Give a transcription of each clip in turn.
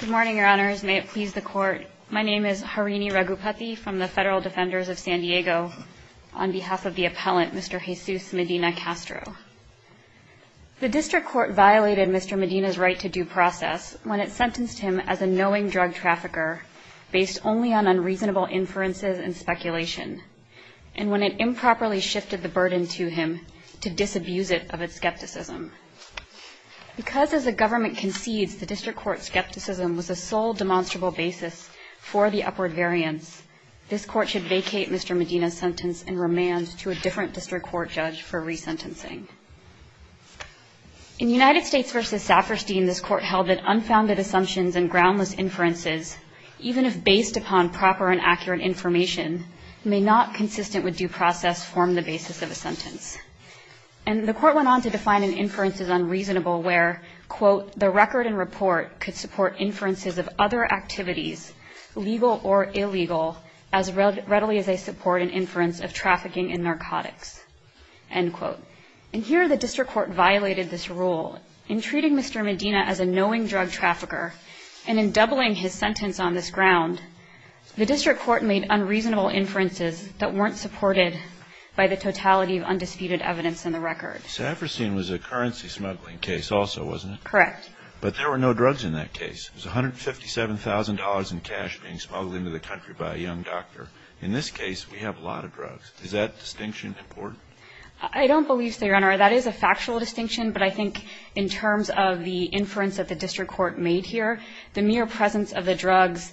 Good morning, your honors. May it please the court. My name is Harini Ragupathy from the Federal Defenders of San Diego on behalf of the appellant Mr. Jesus Medina-Castro. The district court violated Mr. Medina's right to due process when it sentenced him as a knowing drug trafficker based only on unreasonable inferences and speculation, and when it improperly shifted the burden to him to disabuse it of its skepticism. Because, as the government concedes, the district court's skepticism was the sole demonstrable basis for the upward variance, this court should vacate Mr. Medina's sentence and remand to a different district court judge for resentencing. In United States v. Saperstein, this court held that unfounded assumptions and groundless inferences, even if based upon proper and accurate information, may not, consistent with due process, form the basis of a sentence. And the court went on to define an inference as unreasonable where, quote, the record and report could support inferences of other activities, legal or illegal, as readily as they support an inference of trafficking and narcotics, end quote. And here the district court violated this rule in treating Mr. Medina as a knowing drug trafficker. And in doubling his sentence on this ground, the district court made unreasonable inferences that weren't supported by the totality of undisputed evidence in the record. Saperstein was a currency smuggling case also, wasn't it? Correct. But there were no drugs in that case. It was $157,000 in cash being smuggled into the country by a young doctor. In this case, we have a lot of drugs. Is that distinction important? I don't believe so, Your Honor. That is a factual distinction, but I think in terms of the inference that the district court made here, the mere presence of the drugs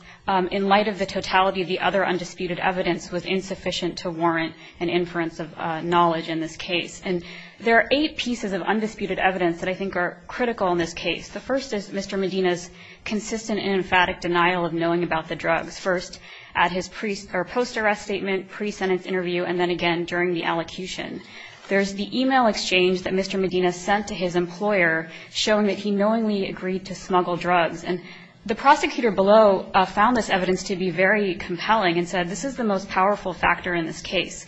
in light of the totality of the other undisputed evidence was insufficient to warrant an inference of knowledge in this case. And there are eight pieces of undisputed evidence that I think are critical in this case. The first is Mr. Medina's consistent and emphatic denial of knowing about the drugs, first at his post-arrest statement, pre-sentence interview, and then again during the allocution. There's the e-mail exchange that Mr. Medina sent to his employer showing that he knowingly agreed to smuggle drugs. And the prosecutor below found this evidence to be very compelling and said this is the most powerful factor in this case.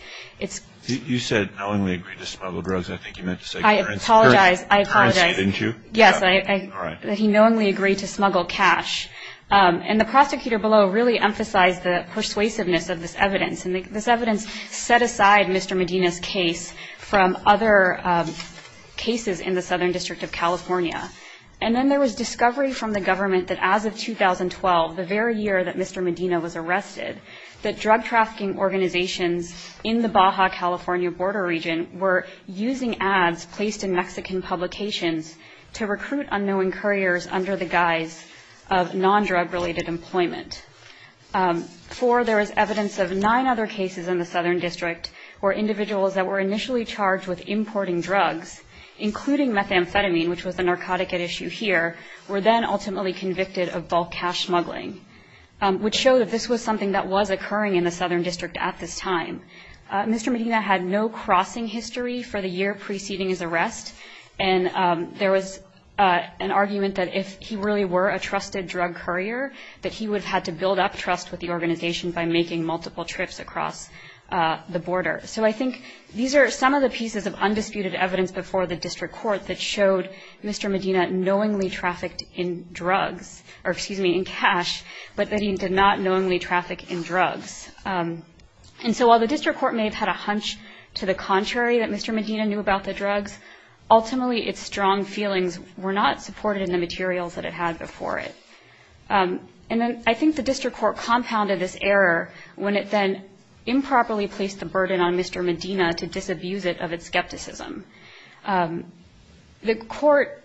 You said knowingly agreed to smuggle drugs. I think you meant to say currency. I apologize. Currency, didn't you? Yes. All right. He knowingly agreed to smuggle cash. And the prosecutor below really emphasized the persuasiveness of this evidence. And this evidence set aside Mr. Medina's case from other cases in the Southern District of California. And then there was discovery from the government that as of 2012, the very year that Mr. Medina was arrested, that drug trafficking organizations in the Baja California border region were using ads placed in Mexican publications to recruit unknowing couriers under the guise of nondrug-related employment. Four, there was evidence of nine other cases in the Southern District where individuals that were initially charged with importing drugs, including methamphetamine, which was the narcotic at issue here, were then ultimately convicted of bulk cash smuggling, which showed that this was something that was occurring in the Southern District at this time. Mr. Medina had no crossing history for the year preceding his arrest. And there was an argument that if he really were a trusted drug courier, that he would have had to build up trust with the organization by making multiple trips across the border. So I think these are some of the pieces of undisputed evidence before the district court that showed Mr. Medina knowingly trafficked in drugs, or excuse me, in cash, but that he did not knowingly traffic in drugs. And so while the district court may have had a hunch to the contrary that Mr. Medina knew about the drugs, ultimately its strong feelings were not supported in the materials that it had before it. And then I think the district court compounded this error when it then improperly placed the burden on Mr. Medina to disabuse it of its skepticism. The court,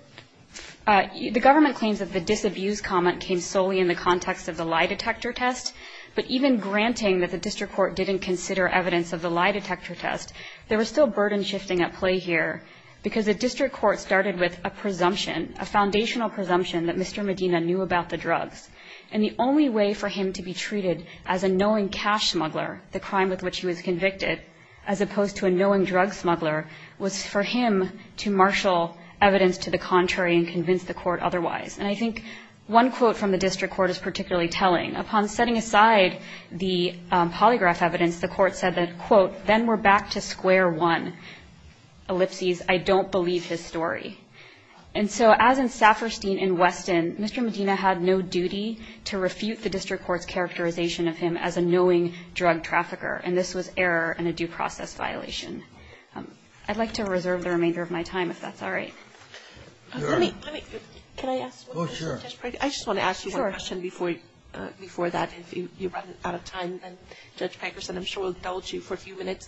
the government claims that the disabuse comment came solely in the context of the lie detector test, but even granting that the district court didn't consider evidence of the lie detector test, there was still burden shifting at play here because the district court started with a presumption, a foundational presumption that Mr. Medina knew about the drugs. And the only way for him to be treated as a knowing cash smuggler, the crime with which he was convicted, as opposed to a knowing drug smuggler, was for him to marshal evidence to the contrary and convince the court otherwise. And I think one quote from the district court is particularly telling. Upon setting aside the polygraph evidence, the court said that, quote, and then we're back to square one, ellipses, I don't believe his story. And so as in Safferstein and Weston, Mr. Medina had no duty to refute the district court's characterization of him as a knowing drug trafficker, and this was error and a due process violation. I'd like to reserve the remainder of my time, if that's all right. I just want to ask you one question before that. If you run out of time, then Judge Pankerson, I'm sure, will indulge you for a few minutes.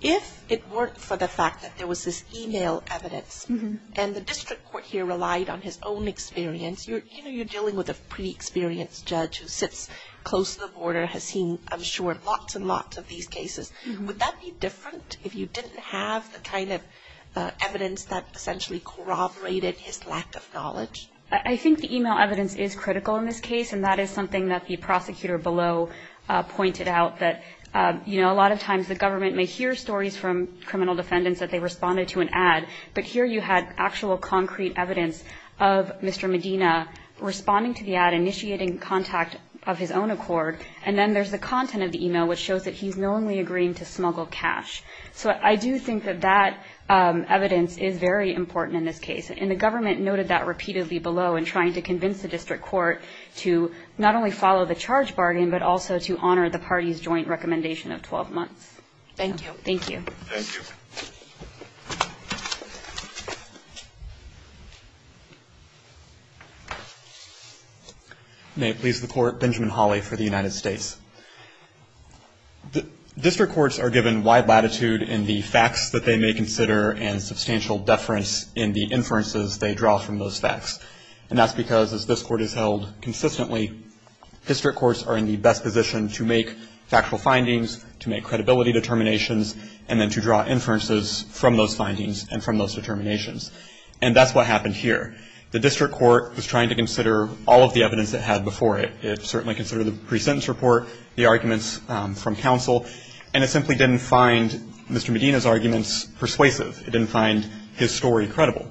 If it weren't for the fact that there was this e-mail evidence and the district court here relied on his own experience, you're dealing with a pretty experienced judge who sits close to the border, has seen, I'm sure, lots and lots of these cases. Would that be different if you didn't have the kind of evidence that essentially corroborated his lack of knowledge? I think the e-mail evidence is critical in this case, and that is something that the prosecutor below pointed out, that, you know, a lot of times the government may hear stories from criminal defendants that they responded to an ad, but here you had actual concrete evidence of Mr. Medina responding to the ad, initiating contact of his own accord, and then there's the content of the e-mail, which shows that he's knowingly agreeing to smuggle cash. So I do think that that evidence is very important in this case, and the government noted that repeatedly below in trying to convince the district court to not only follow the charge bargain, but also to honor the party's joint recommendation of 12 months. Thank you. Thank you. May it please the Court, Benjamin Hawley for the United States. District courts are given wide latitude in the facts that they may consider and substantial deference in the inferences they draw from those facts, and that's because, as this Court has held consistently, district courts are in the best position to make factual findings, to make credibility determinations, and then to draw inferences from those findings and from those determinations, and that's what happened here. The district court was trying to consider all of the evidence it had before it. It certainly considered the pre-sentence report, the arguments from counsel, and it simply didn't find Mr. Medina's arguments persuasive. It didn't find his story credible.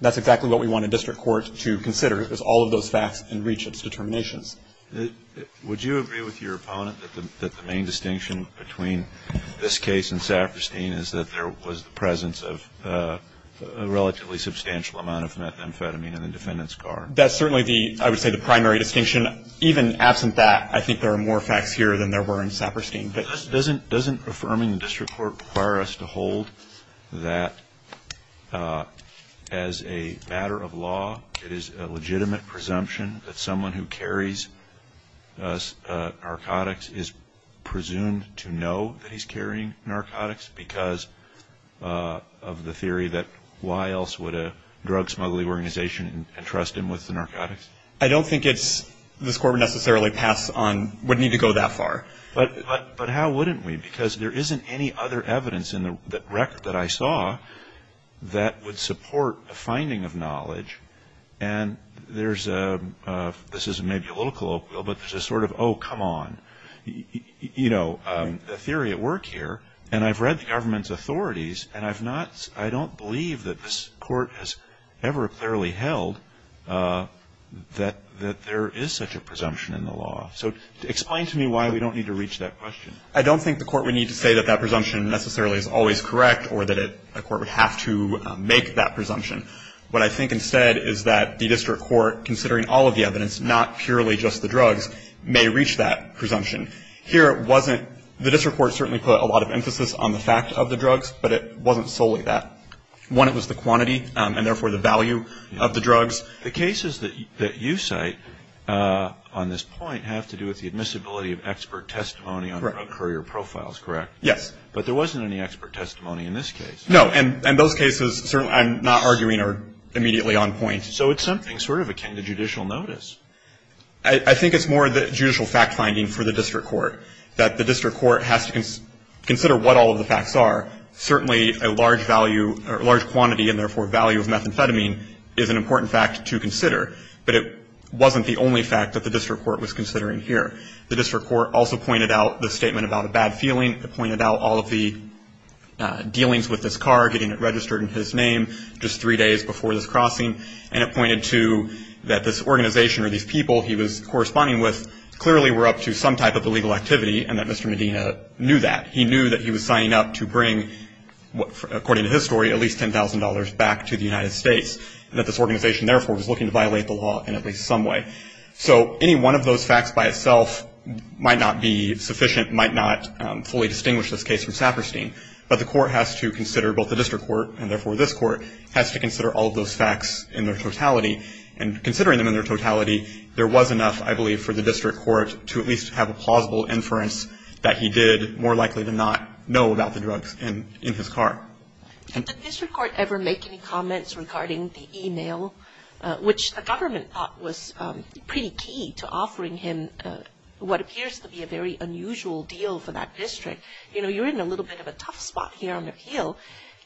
That's exactly what we want a district court to consider is all of those facts and reach its determinations. Would you agree with your opponent that the main distinction between this case and Saperstein is that there was the presence of a relatively substantial amount of methamphetamine in the defendant's car? That's certainly, I would say, the primary distinction. Even absent that, I think there are more facts here than there were in Saperstein. Doesn't affirming the district court require us to hold that as a matter of law, it is a legitimate presumption that someone who carries narcotics is presumed to know that he's carrying narcotics because of the theory that why else would a drug smuggling organization entrust him with the narcotics? I don't think it's, this Court would necessarily pass on, would need to go that far. But how wouldn't we? Because there isn't any other evidence in the record that I saw that would support a finding of knowledge. And there's a, this is maybe a little colloquial, but there's a sort of, oh, come on. You know, the theory at work here, and I've read the government's authorities, and I've not, I don't believe that this Court has ever clearly held that there is such a presumption in the law. So explain to me why we don't need to reach that question. I don't think the Court would need to say that that presumption necessarily is always correct or that a court would have to make that presumption. What I think instead is that the district court, considering all of the evidence, not purely just the drugs, may reach that presumption. Here it wasn't, the district court certainly put a lot of emphasis on the fact of the drugs, but it wasn't solely that. One, it was the quantity, and therefore the value of the drugs. The cases that you cite on this point have to do with the admissibility of expert testimony on drug courier profiles, correct? Yes. But there wasn't any expert testimony in this case. No, and those cases I'm not arguing are immediately on point. So it's something sort of akin to judicial notice. I think it's more the judicial fact finding for the district court, that the district court has to consider what all of the facts are. Certainly a large value or large quantity and therefore value of methamphetamine is an important fact to consider, but it wasn't the only fact that the district court was considering here. The district court also pointed out the statement about a bad feeling. It pointed out all of the dealings with this car, getting it registered in his name, just three days before this crossing, and it pointed to that this organization or these people he was corresponding with clearly were up to some type of illegal activity and that Mr. Medina knew that. He knew that he was signing up to bring, according to his story, at least $10,000 back to the United States, and that this organization therefore was looking to violate the law in at least some way. So any one of those facts by itself might not be sufficient, might not fully distinguish this case from Saperstein, but the court has to consider, both the district court and therefore this court, has to consider all of those facts in their totality, and considering them in their totality, there was enough, I believe, for the district court to at least have a plausible inference that he did more likely than not know about the drugs in his car. Did the district court ever make any comments regarding the e-mail, which the government thought was pretty key to offering him what appears to be a very unusual deal for that district? You know, you're in a little bit of a tough spot here on the Hill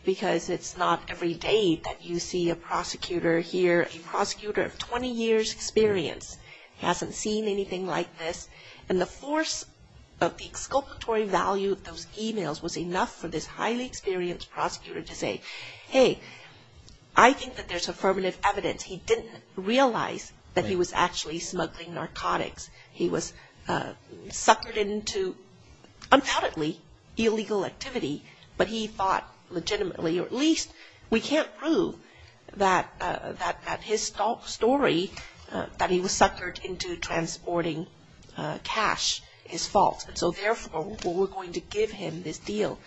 because it's not every day that you see a prosecutor here, a prosecutor of 20 years' experience, hasn't seen anything like this, and the force of the exculpatory value of those e-mails was enough for this highly experienced prosecutor to say, hey, I think that there's affirmative evidence. He didn't realize that he was actually smuggling narcotics. He was suckered into, undoubtedly, illegal activity, but he thought legitimately, or at least we can't prove that his story, that he was suckered into transporting cash, is false, and so therefore we're going to give him this deal.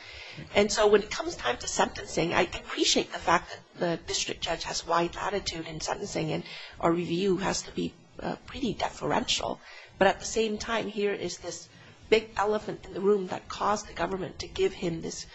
And so when it comes time to sentencing, I appreciate the fact that the district judge has a wide attitude in sentencing, and our review has to be pretty deferential, to give him this,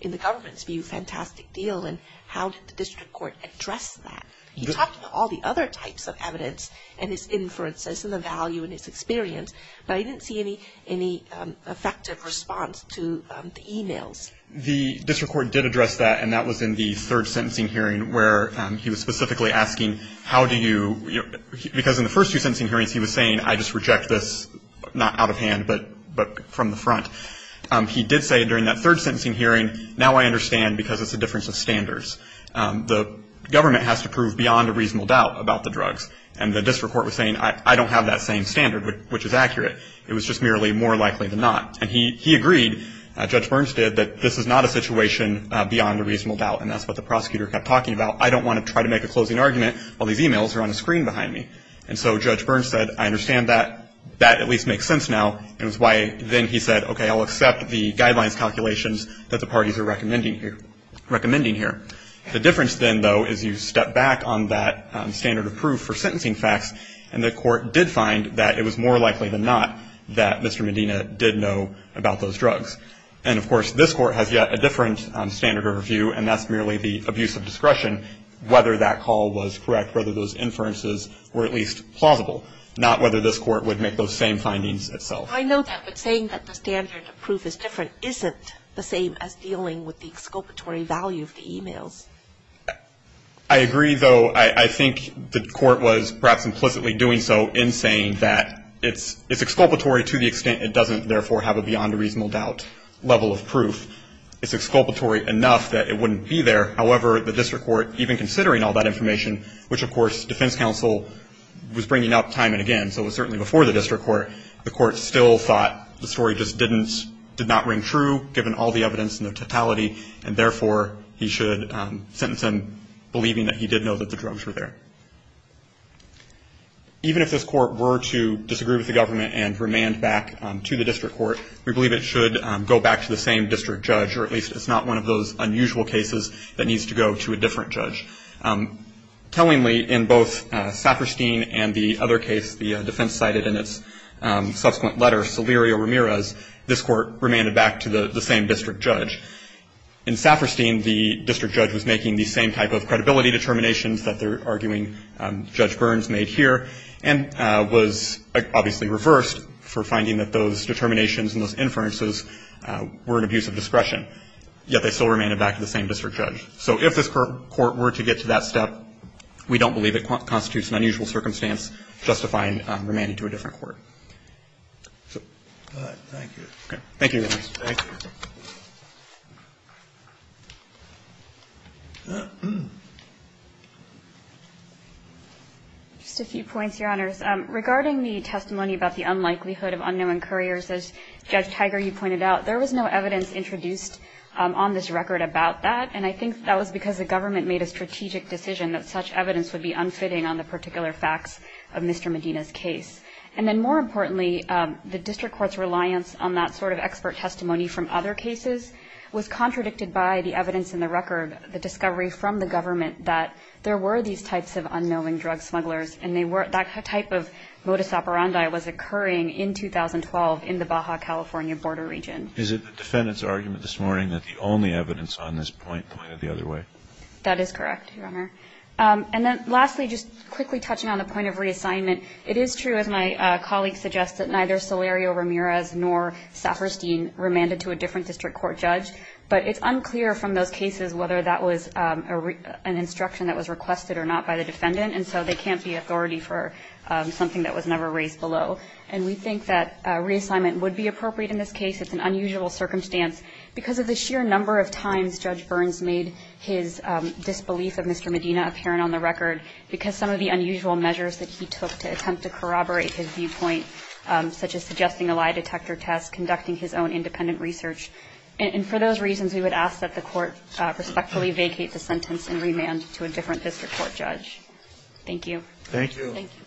in the government's view, fantastic deal, and how did the district court address that? He talked about all the other types of evidence and his inferences and the value in his experience, but I didn't see any effective response to the e-mails. The district court did address that, and that was in the third sentencing hearing where he was specifically asking, how do you, because in the first two sentencing hearings he was saying, I just reject this, not out of hand, but from the front, he did say during that third sentencing hearing, now I understand because it's a difference of standards. The government has to prove beyond a reasonable doubt about the drugs, and the district court was saying, I don't have that same standard, which is accurate. It was just merely more likely than not. And he agreed, Judge Burns did, that this is not a situation beyond a reasonable doubt, and that's what the prosecutor kept talking about. I don't want to try to make a closing argument while these e-mails are on the screen behind me. And so Judge Burns said, I understand that. That at least makes sense now. It was why then he said, okay, I'll accept the guidelines calculations that the parties are recommending here. The difference then, though, is you step back on that standard of proof for sentencing facts, and the court did find that it was more likely than not that Mr. Medina did know about those drugs. And, of course, this court has yet a different standard of review, and that's merely the abuse of discretion, whether that call was correct, whether those inferences were at least plausible, not whether this court would make those same findings itself. I know that. But saying that the standard of proof is different isn't the same as dealing with the exculpatory value of the e-mails. I agree, though. I think the court was perhaps implicitly doing so in saying that it's exculpatory to the extent it doesn't therefore have a beyond a reasonable doubt level of proof. It's exculpatory enough that it wouldn't be there. However, the district court, even considering all that information, which, of course, defense counsel was bringing up time and again, so it was certainly before the district court, the court still thought the story just did not ring true, given all the evidence and the totality, and therefore he should sentence him believing that he did know that the drugs were there. Even if this court were to disagree with the government and remand back to the district court, we believe it should go back to the same district judge, or at least it's not one of those unusual cases that needs to go to a different judge. Tellingly, in both Saperstein and the other case the defense cited in its subsequent letter, Solirio-Ramirez, this court remanded back to the same district judge. In Saperstein, the district judge was making the same type of credibility determinations that they're arguing Judge Burns made here and was obviously reversed for finding that those determinations and those inferences were an abuse of discretion, yet they still remanded back to the same district judge. So if this court were to get to that step, we don't believe it constitutes an unusual circumstance justifying remanding to a different court. Thank you. Thank you. Thank you. Just a few points, Your Honors. Regarding the testimony about the unlikelihood of unknown couriers, as Judge Tiger, you pointed out, there was no evidence introduced on this record about that, and I think that was because the government made a strategic decision that such evidence would be unfitting on the particular facts of Mr. Medina's case. And then more importantly, the district court's reliance on that sort of expert testimony from other cases was contradicted by the evidence in the record, the discovery from the government that there were these types of unknowing drug smugglers and that type of modus operandi was occurring in 2012 in the Baja California border region. Is it the defendant's argument this morning that the only evidence on this point pointed the other way? That is correct, Your Honor. And then lastly, just quickly touching on the point of reassignment, it is true, as my colleague suggests, that neither Salerio Ramirez nor Saperstein remanded to a different district court judge, but it's unclear from those cases whether that was an instruction that was requested or not by the defendant, and so there can't be authority for something that was never raised below. And we think that reassignment would be appropriate in this case. It's an unusual circumstance. Because of the sheer number of times Judge Burns made his disbelief of Mr. Medina apparent on the record, because some of the unusual measures that he took to attempt to corroborate his viewpoint, such as suggesting a lie detector test, conducting his own independent research, and for those reasons, we would ask that the court respectfully vacate the sentence and remand to a different district court judge. Thank you. Thank you.